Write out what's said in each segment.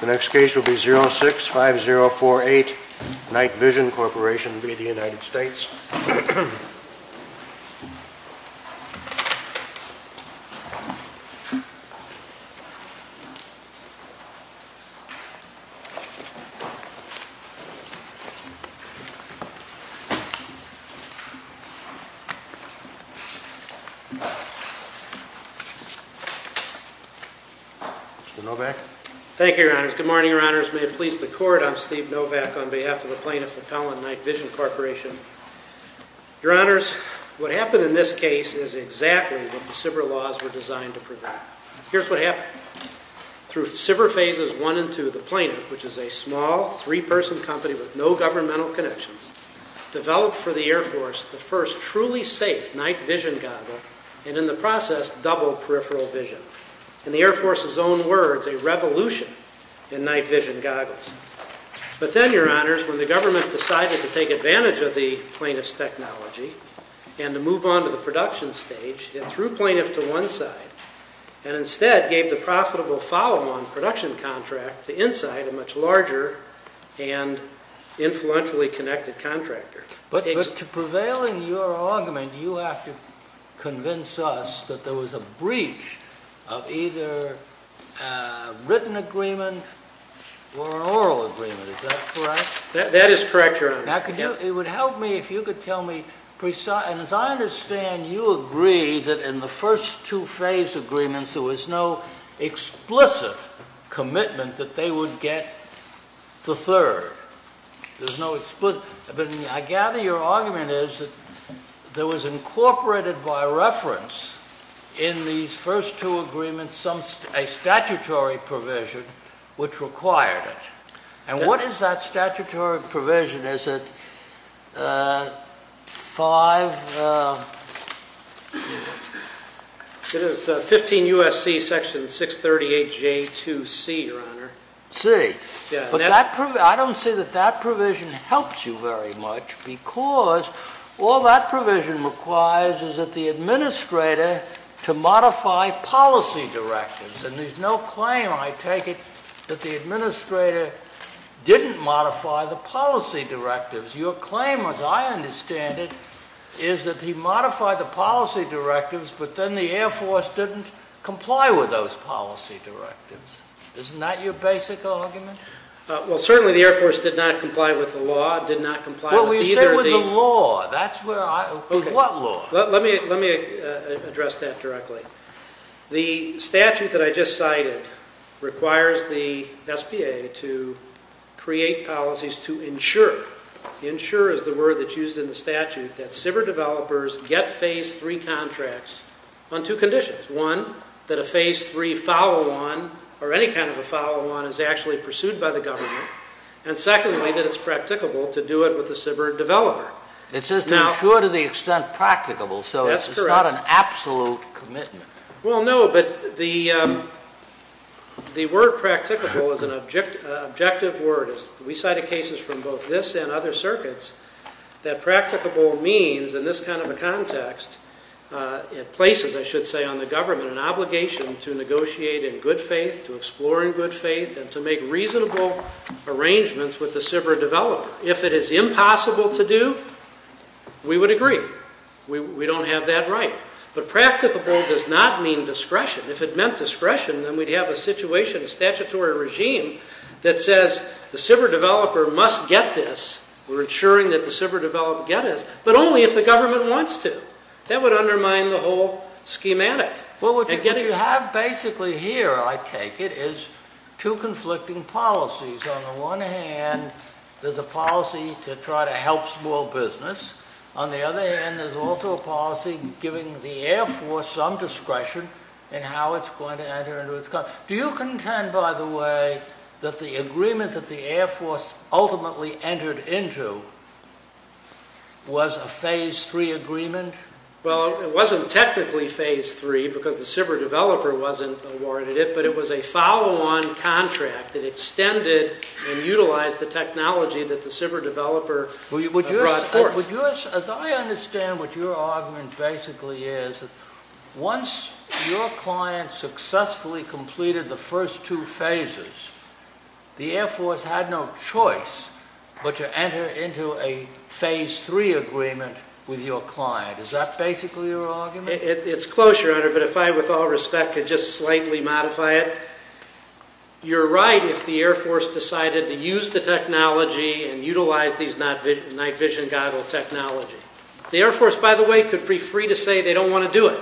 The next case will be 06-5048 Night Vision Corp v. United States. Thank you, Your Honors. Good morning, Your Honors. May it please the Court, I'm Steve Novak on behalf of the Plaintiff Appellant, Night Vision Corporation. Your Honors, what happened in this case is exactly what the SBIR laws were designed to prevent. Here's what happened. Through SBIR phases 1 and 2, the Plaintiff, which is a small, three-person company with no governmental connections, developed for the Air Force the first truly safe night vision goggle, and in the process, double peripheral vision. In the Air Force's own words, a revolution in night vision goggles. But then, Your Honors, when the government decided to take advantage of the Plaintiff's technology and to move on to the production stage, it threw Plaintiff to one side and instead gave the profitable follow-on production contract to Inside, a much larger and influentially connected contractor. But to prevail in your argument, you have to convince us that there was a breach of either a written agreement or an oral agreement. Is that correct? That is correct, Your Honors. Now, it would help me if you could tell me precisely, and as I understand, you agree that in the first two phase agreements, there was no explicit commitment that they would get the third. But I gather your argument is that there was incorporated by reference in these first two agreements a statutory provision which required it. And what is that statutory provision? Is it 15 U.S.C. Section 638J2C, Your Honor? I don't see that that provision helps you very much because all that provision requires is that the administrator to modify policy directives. And there's no claim, I take it, that the administrator didn't modify the policy directives. Your claim, as I understand it, is that he modified the policy directives, but then the Air Force didn't comply with those policy directives. Isn't that your basic argument? Well, certainly the Air Force did not comply with the law, did not comply with either of the... Well, you said with the law. That's where I... Okay. What law? Let me address that directly. The statute that I just cited requires the SBA to create policies to ensure, ensure is the word that's used in the statute, that SBA developers get Phase 3 contracts on two conditions. One, that a Phase 3 follow-on or any kind of a follow-on is actually pursued by the government. And secondly, that it's practicable to do it with a SBA developer. It says to ensure to the extent practicable, so it's not an absolute commitment. Well, no, but the word practicable is an objective word. We cited cases from both this and other circuits that practicable means, in this kind of a context, it places, I should say, on the government an obligation to negotiate in good faith, to explore in good faith, and to make reasonable arrangements with the SBA developer. If it is impossible to do, we would agree. We don't have that right. But practicable does not mean discretion. If it meant discretion, then we'd have a situation, a statutory regime, that says the SBA developer must get this. We're ensuring that the SBA developer get it, but only if the government wants to. That would undermine the whole schematic. Well, what you have basically here, I take it, is two conflicting policies. On the one hand, there's a policy to try to help small business. On the other hand, there's also a policy giving the Air Force some discretion in how it's going to enter into its contract. Do you contend, by the way, that the agreement that the Air Force ultimately entered into was a Phase III agreement? Well, it wasn't technically Phase III, because the SBA developer wasn't awarded it, but it was a follow-on contract that extended and utilized the technology that the SBA developer brought forth. As I understand what your argument basically is, once your client successfully completed the first two phases, the Air Force had no choice but to enter into a Phase III agreement with your client. Is that basically your argument? It's close, Your Honor, but if I, with all respect, could just slightly modify it. You're right if the Air Force decided to use the technology and utilize these night vision goggle technology. The Air Force, by the way, could be free to say they don't want to do it.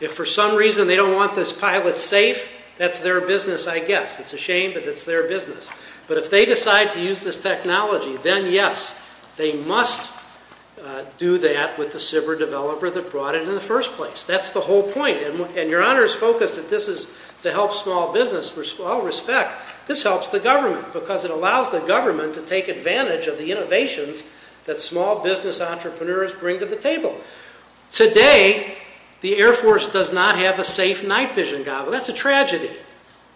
If for some reason they don't want this pilot safe, that's their business, I guess. It's a shame, but it's their business. But if they decide to use this technology, then yes, they must do that with the SBA developer that brought it in the first place. That's the whole point, and Your Honor is focused that this is to help small business. With all respect, this helps the government because it allows the government to take advantage of the innovations that small business entrepreneurs bring to the table. Today, the Air Force does not have a safe night vision goggle. That's a tragedy.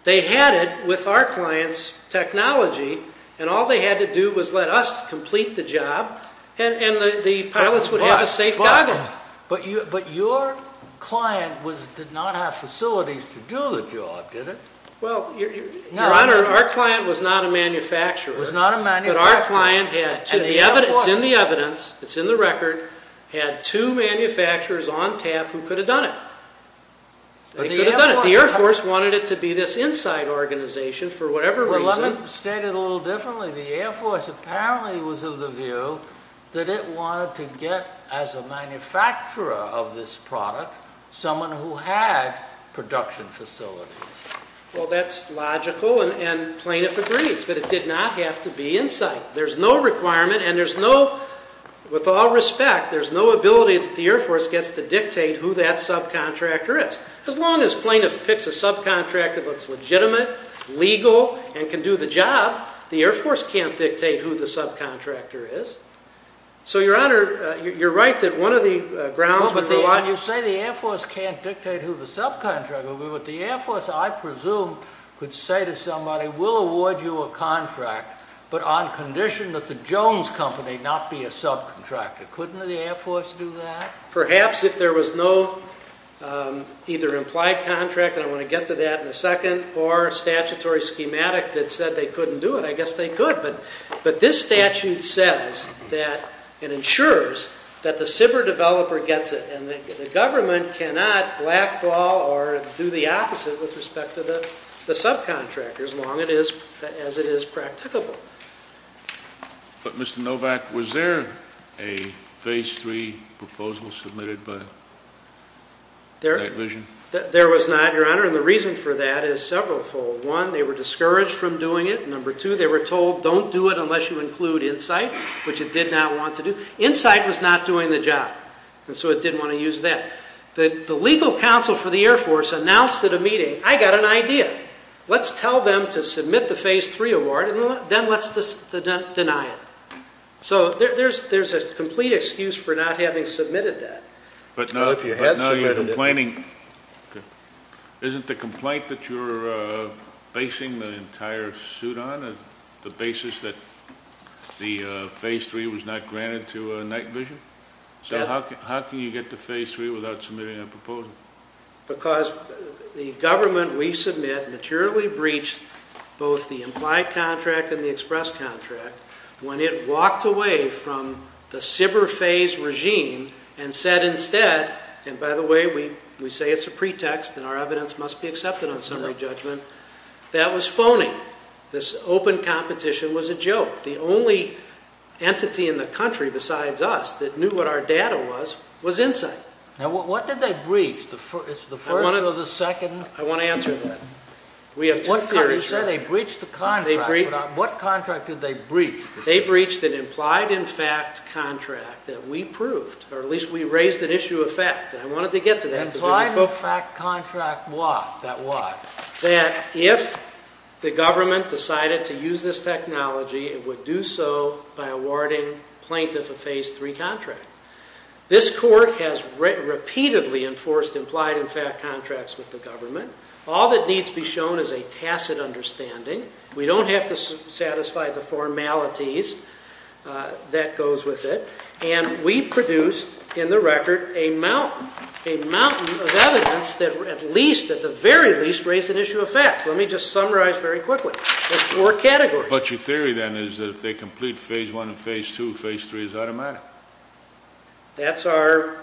They had it with our client's technology, and all they had to do was let us complete the job, and the pilots would have a safe goggle. But your client did not have facilities to do the job, did it? Well, Your Honor, our client was not a manufacturer. It's in the evidence. It's in the record. Had two manufacturers on tap who could have done it. They could have done it. The Air Force wanted it to be this inside organization for whatever reason. Well, let me state it a little differently. The Air Force apparently was of the view that it wanted to get, as a manufacturer of this product, someone who had production facilities. Well, that's logical, and plaintiff agrees, but it did not have to be inside. There's no requirement, and there's no, with all respect, there's no ability that the Air Force gets to dictate who that subcontractor is. As long as plaintiff picks a subcontractor that's legitimate, legal, and can do the job, the Air Force can't dictate who the subcontractor is. So, Your Honor, you're right that one of the grounds would rely on... Well, but you say the Air Force can't dictate who the subcontractor would be, but the Air Force, I presume, could say to somebody, we'll award you a contract, but on condition that the Jones Company not be a subcontractor. Couldn't the Air Force do that? Perhaps, if there was no either implied contract, and I want to get to that in a second, or statutory schematic that said they couldn't do it, I guess they could. But this statute says that, and ensures, that the SBIR developer gets it, and the government cannot blackball or do the opposite with respect to the subcontractors, long as it is practicable. But, Mr. Novak, was there a Phase III proposal submitted by Night Vision? There was not, Your Honor, and the reason for that is severalfold. One, they were discouraged from doing it. Number two, they were told, don't do it unless you include Insight, which it did not want to do. Insight was not doing the job, and so it didn't want to use that. The legal counsel for the Air Force announced at a meeting, I got an idea. Let's tell them to submit the Phase III award, and then let's deny it. So there's a complete excuse for not having submitted that. But now you're complaining. Isn't the complaint that you're basing the entire suit on, the basis that the Phase III was not granted to Night Vision? So how can you get to Phase III without submitting a proposal? Because the government we submit materially breached both the implied contract and the express contract when it walked away from the SBIR Phase regime and said instead, and by the way, we say it's a pretext and our evidence must be accepted on summary judgment, that was phony. This open competition was a joke. The only entity in the country besides us that knew what our data was was Insight. Now, what did they breach? The first or the second? I want to answer that. We have two theories. They said they breached the contract, but what contract did they breach? They breached an implied-in-fact contract that we proved, or at least we raised an issue of fact, and I wanted to get to that. Implied-in-fact contract what? That if the government decided to use this technology, it would do so by awarding plaintiff a Phase III contract. This court has repeatedly enforced implied-in-fact contracts with the government. All that needs to be shown is a tacit understanding. We don't have to satisfy the formalities that goes with it, and we produced in the record a mountain of evidence that at least, at the very least, raised an issue of fact. Let me just summarize very quickly. There's four categories. But your theory then is that if they complete Phase I and Phase II, Phase III is automatic. That's our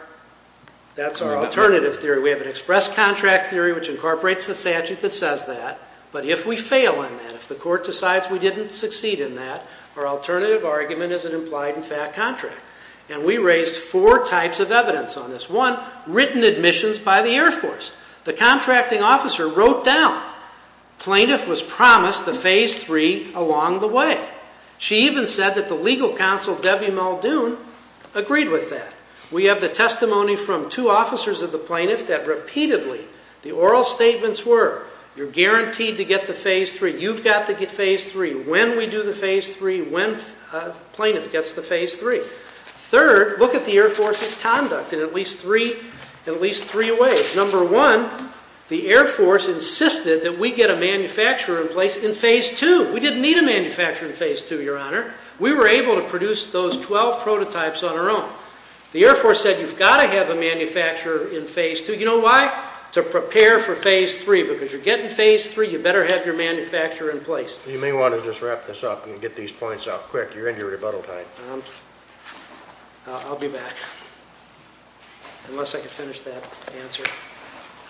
alternative theory. We have an express contract theory, which incorporates the statute that says that. But if we fail in that, if the court decides we didn't succeed in that, our alternative argument is an implied-in-fact contract. And we raised four types of evidence on this. One, written admissions by the Air Force. The contracting officer wrote down, plaintiff was promised a Phase III along the way. She even said that the legal counsel, Debbie Muldoon, agreed with that. We have the testimony from two officers of the plaintiff that repeatedly the oral statements were, you're guaranteed to get the Phase III, you've got to get Phase III, when we do the Phase III, when plaintiff gets the Phase III. Third, look at the Air Force's conduct in at least three ways. Number one, the Air Force insisted that we get a manufacturer in place in Phase II. We didn't need a manufacturer in Phase II, Your Honor. We were able to produce those 12 prototypes on our own. The Air Force said, you've got to have a manufacturer in Phase II. You know why? To prepare for Phase III. Because you're getting Phase III, you better have your manufacturer in place. You may want to just wrap this up and get these points out quick. You're in your rebuttal time. I'll be back. Unless I can finish that answer.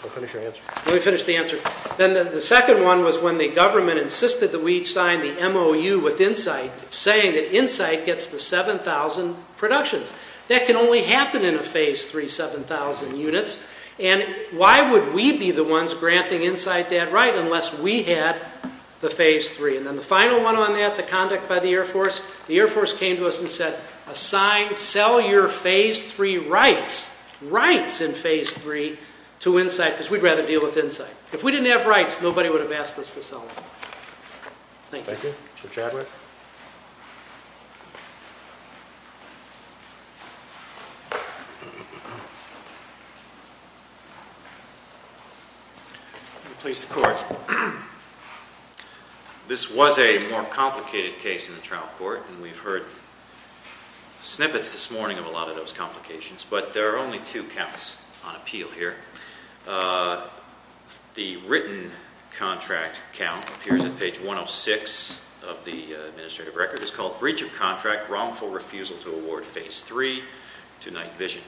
I'll finish your answer. Let me finish the answer. Then the second one was when the government insisted that we sign the MOU with Insight, saying that Insight gets the 7,000 productions. That can only happen in a Phase III 7,000 units. And why would we be the ones granting Insight that right unless we had the Phase III? And then the final one on that, the conduct by the Air Force, the Air Force came to us and said, assign, sell your Phase III rights, rights in Phase III to Insight because we'd rather deal with Insight. If we didn't have rights, nobody would have asked us to sell them. Thank you. Thank you. Mr. Chadwick. Please support. This was a more complicated case in the trial court, and we've heard snippets this morning of a lot of those complications. But there are only two counts on appeal here. The written contract count appears on page 106 of the administrative record. It's called breach of contract, wrongful refusal to award Phase III to Night Vision.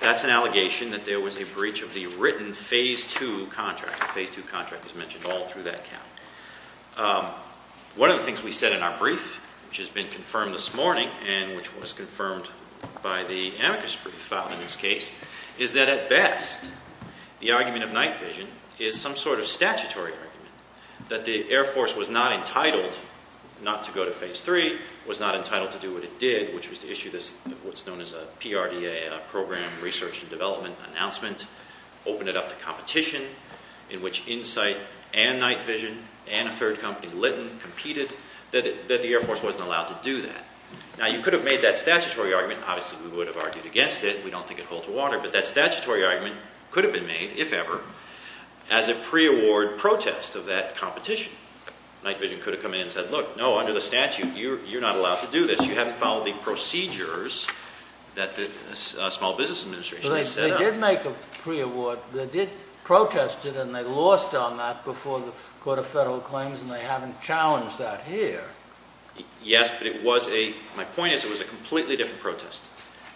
That's an allegation that there was a breach of the written Phase II contract. The Phase II contract is mentioned all through that count. One of the things we said in our brief, which has been confirmed this morning and which was confirmed by the amicus brief filed in this case, is that at best the argument of Night Vision is some sort of statutory argument, that the Air Force was not entitled not to go to Phase III, was not entitled to do what it did, which was to issue what's known as a PRDA, a Program Research and Development Announcement, open it up to competition in which Insight and Night Vision and a third company, Litton, competed, that the Air Force wasn't allowed to do that. Now you could have made that statutory argument, and obviously we would have argued against it, we don't think it'd hold to water, but that statutory argument could have been made, if ever, as a pre-award protest of that competition. Night Vision could have come in and said, look, no, under the statute, you're not allowed to do this, you haven't followed the procedures that the Small Business Administration has set up. But they did make a pre-award, they did protest it, and they lost on that before the Court of Federal Claims, and they haven't challenged that here. Yes, but it was a, my point is, it was a completely different protest.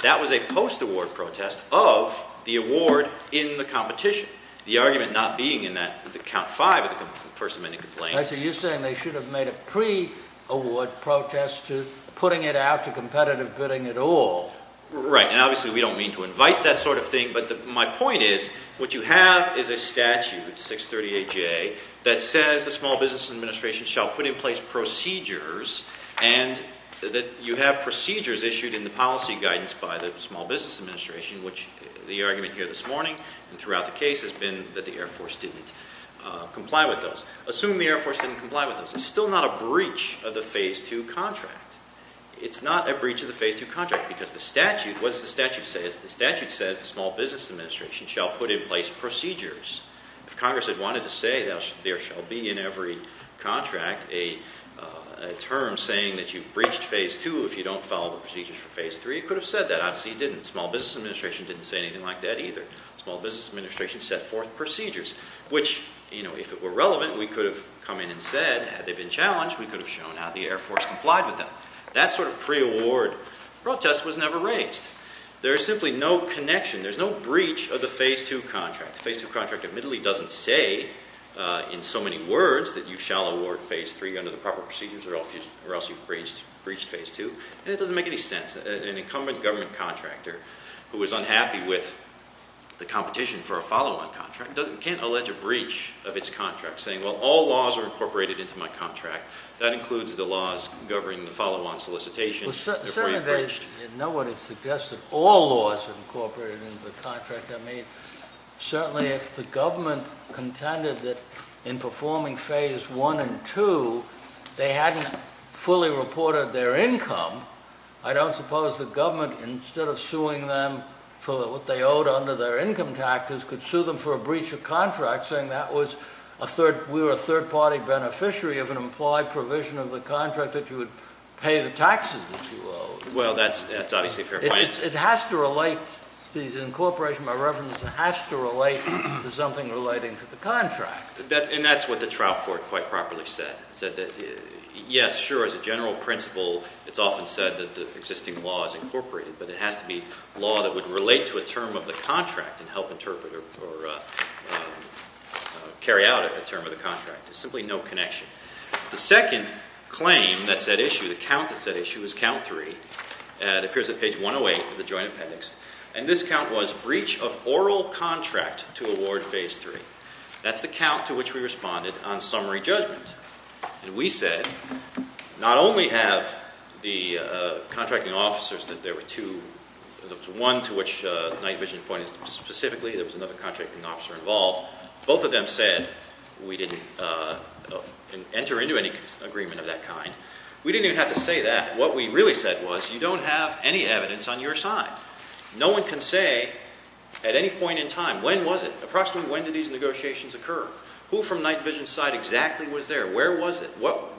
That was a post-award protest of the award in the competition. The argument not being in that count five of the First Amendment complaint. I see, you're saying they should have made a pre-award protest to putting it out to competitive bidding at all. Right, and obviously we don't mean to invite that sort of thing, but my point is, what you have is a statute, 638J, that says the Small Business Administration shall put in place procedures, and that you have procedures issued in the policy guidance by the Small Business Administration, which the argument here this morning, and throughout the case, has been that the Air Force didn't comply with those. Assume the Air Force didn't comply with those. It's still not a breach of the Phase II contract. It's not a breach of the Phase II contract, because the statute, what does the statute say? The statute says the Small Business Administration shall put in place procedures. If Congress had wanted to say there shall be in every contract a term saying that you've breached Phase II if you don't follow the procedures for Phase III, it could have said that. Obviously it didn't. The Small Business Administration didn't say anything like that either. The Small Business Administration set forth procedures, which, you know, if it were relevant, we could have come in and said, had they been challenged, we could have shown how the Air Force complied with them. That sort of pre-award protest was never raised. There is simply no connection. There's no breach of the Phase II contract. The Phase II contract admittedly doesn't say in so many words that you shall award Phase III under the proper procedures, or else you've breached Phase II, and it doesn't make any sense. An incumbent government contractor who is unhappy with the competition for a follow-on contract can't allege a breach of its contract, saying, well, all laws are incorporated into my contract. That includes the laws governing the follow-on solicitation. If we're breached... Well, certainly they know what it suggests, that all laws are incorporated into the contract. I mean, certainly if the government contended that in performing Phase I and II they hadn't fully reported their income, I don't suppose the government, instead of suing them for what they owed under their income tactics, could sue them for a breach of contract saying we were a third-party beneficiary of an implied provision of the contract that you would pay the taxes that you owed. Well, that's obviously a fair point. It has to relate to the incorporation by reverence. It has to relate to something relating to the contract. And that's what the trial court quite properly said. It said that, yes, sure, as a general principle, it's often said that the existing law is incorporated, but it has to be law that would relate to a term of the contract and help interpret or carry out a term of the contract. There's simply no connection. The second claim that's at issue, the count that's at issue, is Count III. It appears at page 108 of the Joint Appendix. And this count was breach of oral contract to award Phase III. That's the count to which we responded on summary judgment. And we said not only have the contracting officers that there were two... There was one to which Night Vision pointed specifically. There was another contracting officer involved. Both of them said we didn't enter into any agreement of that kind. We didn't even have to say that. What we really said was you don't have any evidence on your side. No one can say at any point in time, when was it? Approximately when did these negotiations occur? Who from Night Vision's side exactly was there? Where was it?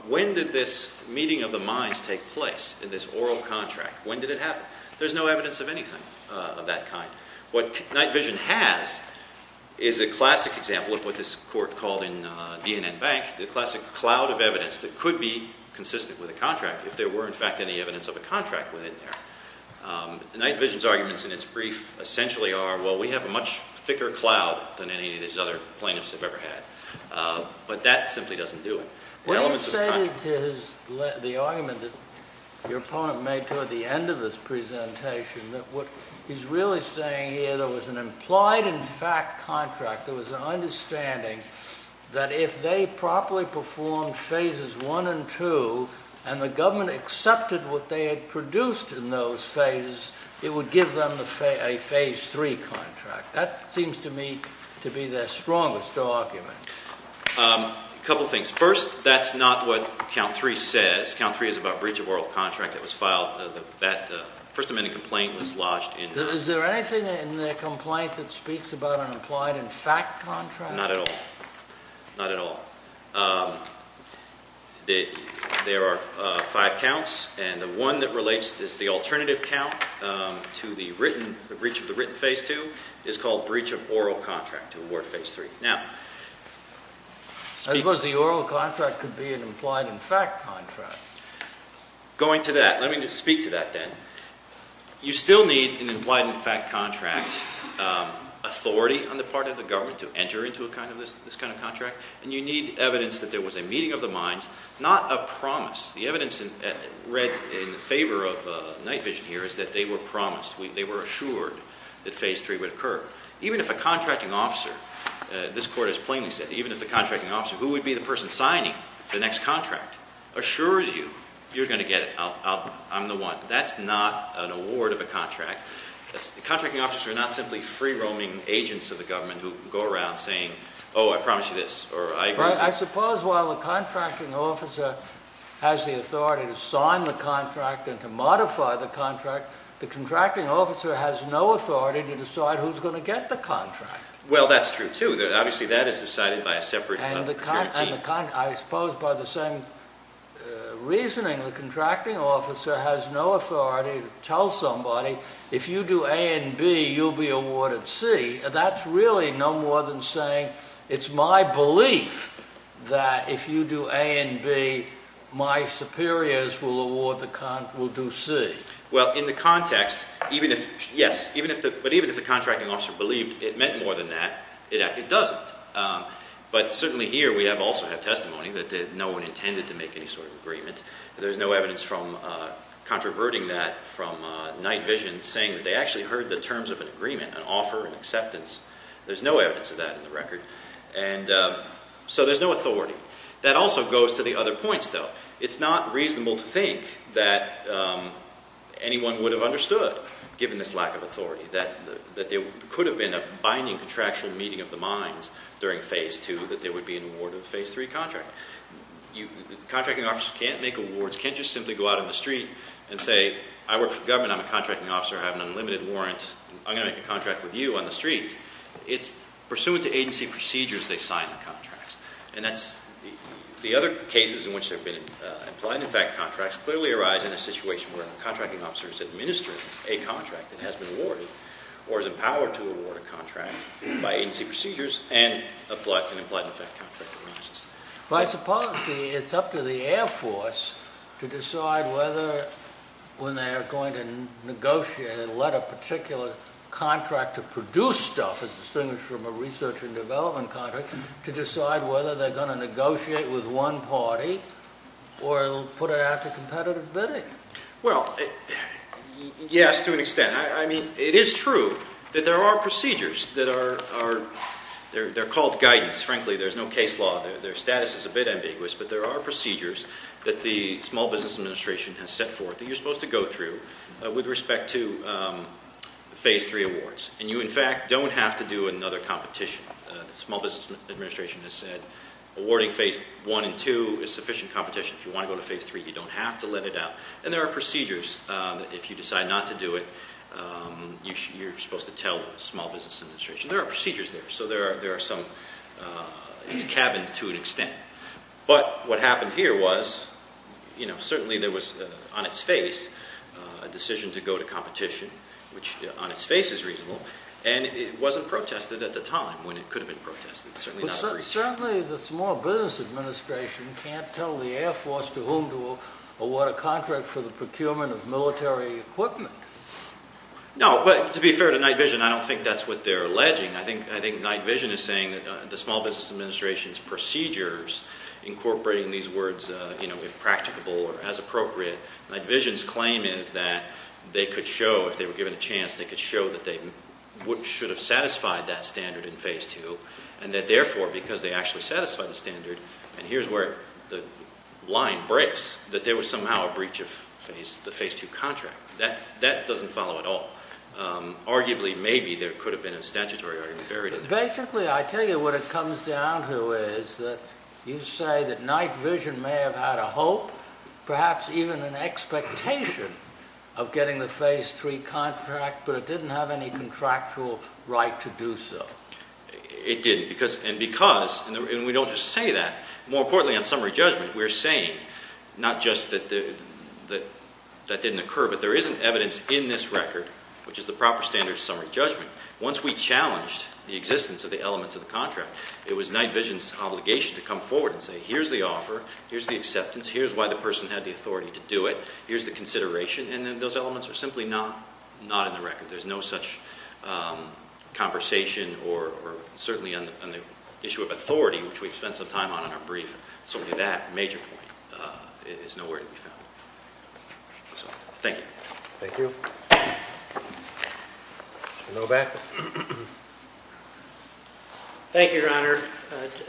When did this meeting of the minds take place in this oral contract? When did it happen? There's no evidence of anything of that kind. What Night Vision has is a classic example of what this court called in DNN Bank, the classic cloud of evidence that could be consistent with a contract if there were, in fact, any evidence of a contract within there. Night Vision's arguments in its brief essentially are, well, we have a much thicker cloud than any of these other plaintiffs have ever had. But that simply doesn't do it. What do you say to the argument that your opponent made toward the end of this presentation that what he's really saying here, there was an implied in fact contract, there was an understanding that if they properly performed phases one and two and the government accepted what they had produced in those phases, it would give them a phase three contract. That seems to me to be their strongest argument. A couple things. First, that's not what count three says. Count three is about breach of oral contract that was filed. That First Amendment complaint was lodged in that. Is there anything in the complaint that speaks about an implied in fact contract? Not at all. Not at all. There are five counts, and the one that relates is the alternative count to the breach of the written phase two is called breach of oral contract, to award phase three. I suppose the oral contract could be an implied in fact contract. Going to that, let me speak to that then. You still need an implied in fact contract authority on the part of the government to enter into this kind of contract, and you need evidence that there was a meeting of the minds, not a promise. The evidence read in favor of Night Vision here is that they were promised, they were assured that phase three would occur. Even if a contracting officer, this court has plainly said, even if the contracting officer who would be the person signing the next contract assures you you're going to get it, I'm the one. That's not an award of a contract. Contracting officers are not simply free-roaming agents of the government who go around saying, oh, I promise you this. I suppose while the contracting officer has the authority to sign the contract and to modify the contract, the contracting officer has no authority to decide who's going to get the contract. Well, that's true, too. Obviously, that is decided by a separate team. I suppose by the same reasoning, the contracting officer has no authority to tell somebody, if you do A and B, you'll be awarded C. That's really no more than saying, it's my belief that if you do A and B, my superiors will do C. Well, in the context, yes. But even if the contracting officer believed it meant more than that, it doesn't. But certainly here we also have testimony that no one intended to make any sort of agreement. There's no evidence from controverting that from night vision saying that they actually heard the terms of an agreement, an offer, an acceptance. There's no evidence of that in the record. So there's no authority. That also goes to the other points, though. It's not reasonable to think that anyone would have understood, given this lack of authority, that there could have been a binding contractual meeting of the minds during Phase 2 that there would be an award of a Phase 3 contract. Contracting officers can't make awards. Can't just simply go out on the street and say, I work for the government. I'm a contracting officer. I have an unlimited warrant. I'm going to make a contract with you on the street. It's pursuant to agency procedures they sign the contracts. The other cases in which there have been implied and in fact contracts clearly arise in a situation where a contracting officer has administered a contract and has been awarded or is empowered to award a contract by agency procedures and an implied and in fact contract arises. But I suppose it's up to the Air Force to decide whether when they are going to negotiate and let a particular contractor produce stuff, as distinguished from a research and development contract, to decide whether they're going to negotiate with one party or put it out to competitive bidding. Well, yes, to an extent. I mean, it is true that there are procedures that are called guidance. Frankly, there's no case law. Their status is a bit ambiguous. But there are procedures that the Small Business Administration has set forth that you're supposed to go through with respect to Phase 3 awards. And you, in fact, don't have to do another competition. The Small Business Administration has said awarding Phase 1 and 2 is sufficient competition. If you want to go to Phase 3, you don't have to let it out. And there are procedures. If you decide not to do it, you're supposed to tell the Small Business Administration. There are procedures there. So there are some. It's cabined to an extent. But what happened here was, you know, certainly there was on its face a decision to go to competition, which on its face is reasonable. And it wasn't protested at the time when it could have been protested. It's certainly not a breach. Certainly the Small Business Administration can't tell the Air Force to whom to award a contract for the procurement of military equipment. No, but to be fair to Night Vision, I don't think that's what they're alleging. I think Night Vision is saying that the Small Business Administration's procedures, incorporating these words, you know, if practicable or as appropriate, Night Vision's claim is that they could show, if they were given a chance, they could show that they should have satisfied that standard in Phase 2, and that, therefore, because they actually satisfied the standard, and here's where the line breaks, that there was somehow a breach of the Phase 2 contract. That doesn't follow at all. Arguably, maybe, there could have been a statutory argument buried in there. Basically, I tell you what it comes down to is that you say that Night Vision may have had a hope, perhaps even an expectation of getting the Phase 3 contract, but it didn't have any contractual right to do so. It didn't, and because, and we don't just say that. More importantly, on summary judgment, we're saying not just that that didn't occur, but there isn't evidence in this record, which is the proper standard of summary judgment. Once we challenged the existence of the elements of the contract, it was Night Vision's obligation to come forward and say, here's the offer, here's the acceptance, here's why the person had the authority to do it, here's the consideration, and then those elements are simply not in the record. There's no such conversation, or certainly on the issue of authority, which we've spent some time on in our brief, certainly that major point is nowhere to be found. Thank you. Thank you. No back? Thank you, Your Honor.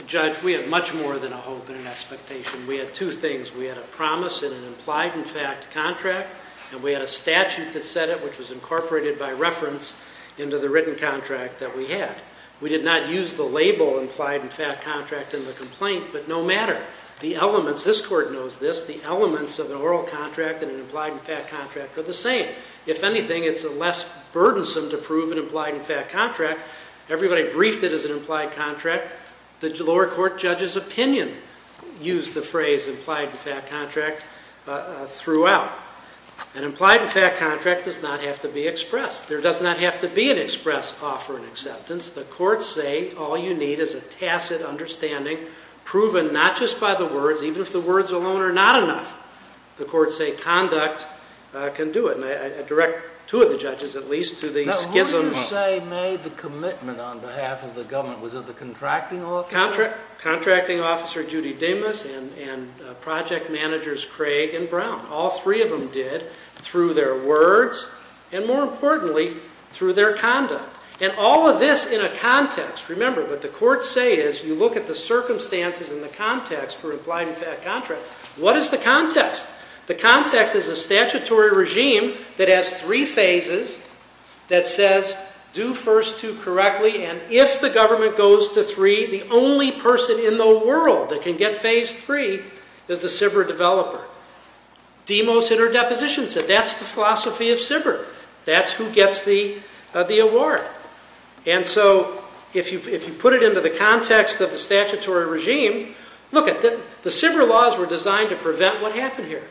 Judge, we have much more than a hope and an expectation. We had two things. We had a promise in an implied-in-fact contract, and we had a statute that said it, which was incorporated by reference into the written contract that we had. We did not use the label implied-in-fact contract in the complaint, but no matter, the elements, this Court knows this, the elements of an oral contract and an implied-in-fact contract are the same. If anything, it's less burdensome to prove an implied-in-fact contract. Everybody briefed it as an implied contract. The lower court judge's opinion used the phrase implied-in-fact contract throughout. An implied-in-fact contract does not have to be expressed. There does not have to be an express offer and acceptance. The courts say all you need is a tacit understanding, proven not just by the words, even if the words alone are not enough, the courts say conduct can do it. And I direct two of the judges, at least, to the schism. What did you say made the commitment on behalf of the government? Was it the contracting officer? Contracting officer Judy Demas and project managers Craig and Brown. All three of them did through their words and, more importantly, through their conduct. And all of this in a context. Remember, what the courts say is you look at the circumstances and the context for implied-in-fact contract. What is the context? The context is a statutory regime that has three phases that says do first two correctly, and if the government goes to three, the only person in the world that can get phase three is the CBR developer. Demos interdeposition said that's the philosophy of CBR. That's who gets the award. And so if you put it into the context of the statutory regime, look, the CBR laws were designed to prevent what happened here.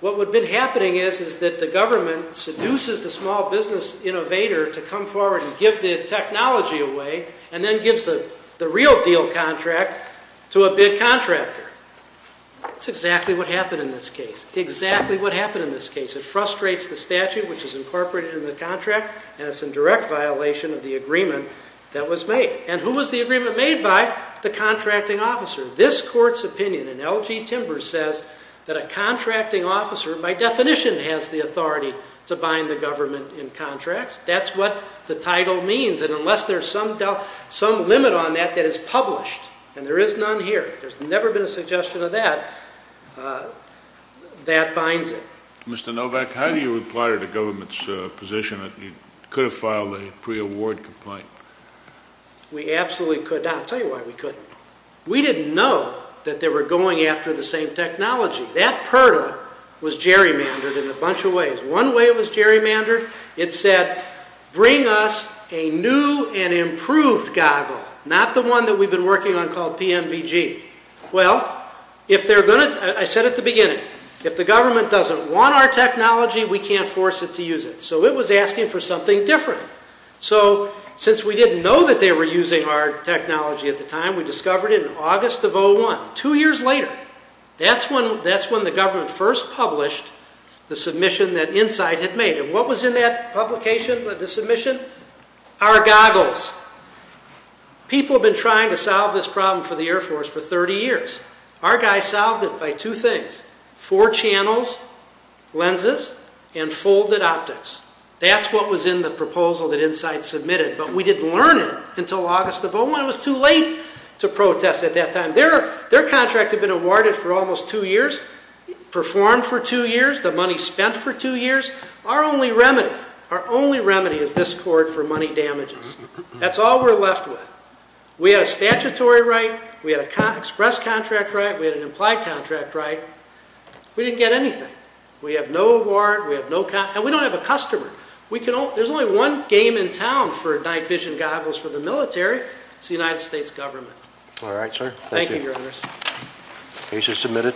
What would have been happening is that the government seduces the small business innovator to come forward and give the technology away and then gives the real deal contract to a big contractor. That's exactly what happened in this case. Exactly what happened in this case. It frustrates the statute, which is incorporated in the contract, and it's in direct violation of the agreement that was made. And who was the agreement made by? The contracting officer. This court's opinion in L.G. Timbers says that a contracting officer, by definition, has the authority to bind the government in contracts. That's what the title means, and unless there's some limit on that that is published, and there is none here, there's never been a suggestion of that, that binds it. Mr. Novak, how do you reply to the government's position that it could have filed a pre-award complaint? We absolutely could not. I'll tell you why we couldn't. We didn't know that they were going after the same technology. That purdah was gerrymandered in a bunch of ways. One way it was gerrymandered, it said, bring us a new and improved goggle, not the one that we've been working on called PMVG. Well, if they're going to, I said at the beginning, if the government doesn't want our technology, we can't force it to use it. So it was asking for something different. So since we didn't know that they were using our technology at the time, we discovered it in August of 2001, two years later. That's when the government first published the submission that Insight had made. And what was in that publication, the submission? Our goggles. People have been trying to solve this problem for the Air Force for 30 years. Our guy solved it by two things, four channels, lenses, and folded optics. That's what was in the proposal that Insight submitted, but we didn't learn it until August of 2001. It was too late to protest at that time. Their contract had been awarded for almost two years, performed for two years, the money spent for two years. Our only remedy is this court for money damages. That's all we're left with. We had a statutory right, we had an express contract right, we had an implied contract right. We didn't get anything. We have no warrant, and we don't have a customer. There's only one game in town for night vision goggles for the military. It's the United States government. All right, sir. Thank you. Thank you, Your Honor. Case is submitted.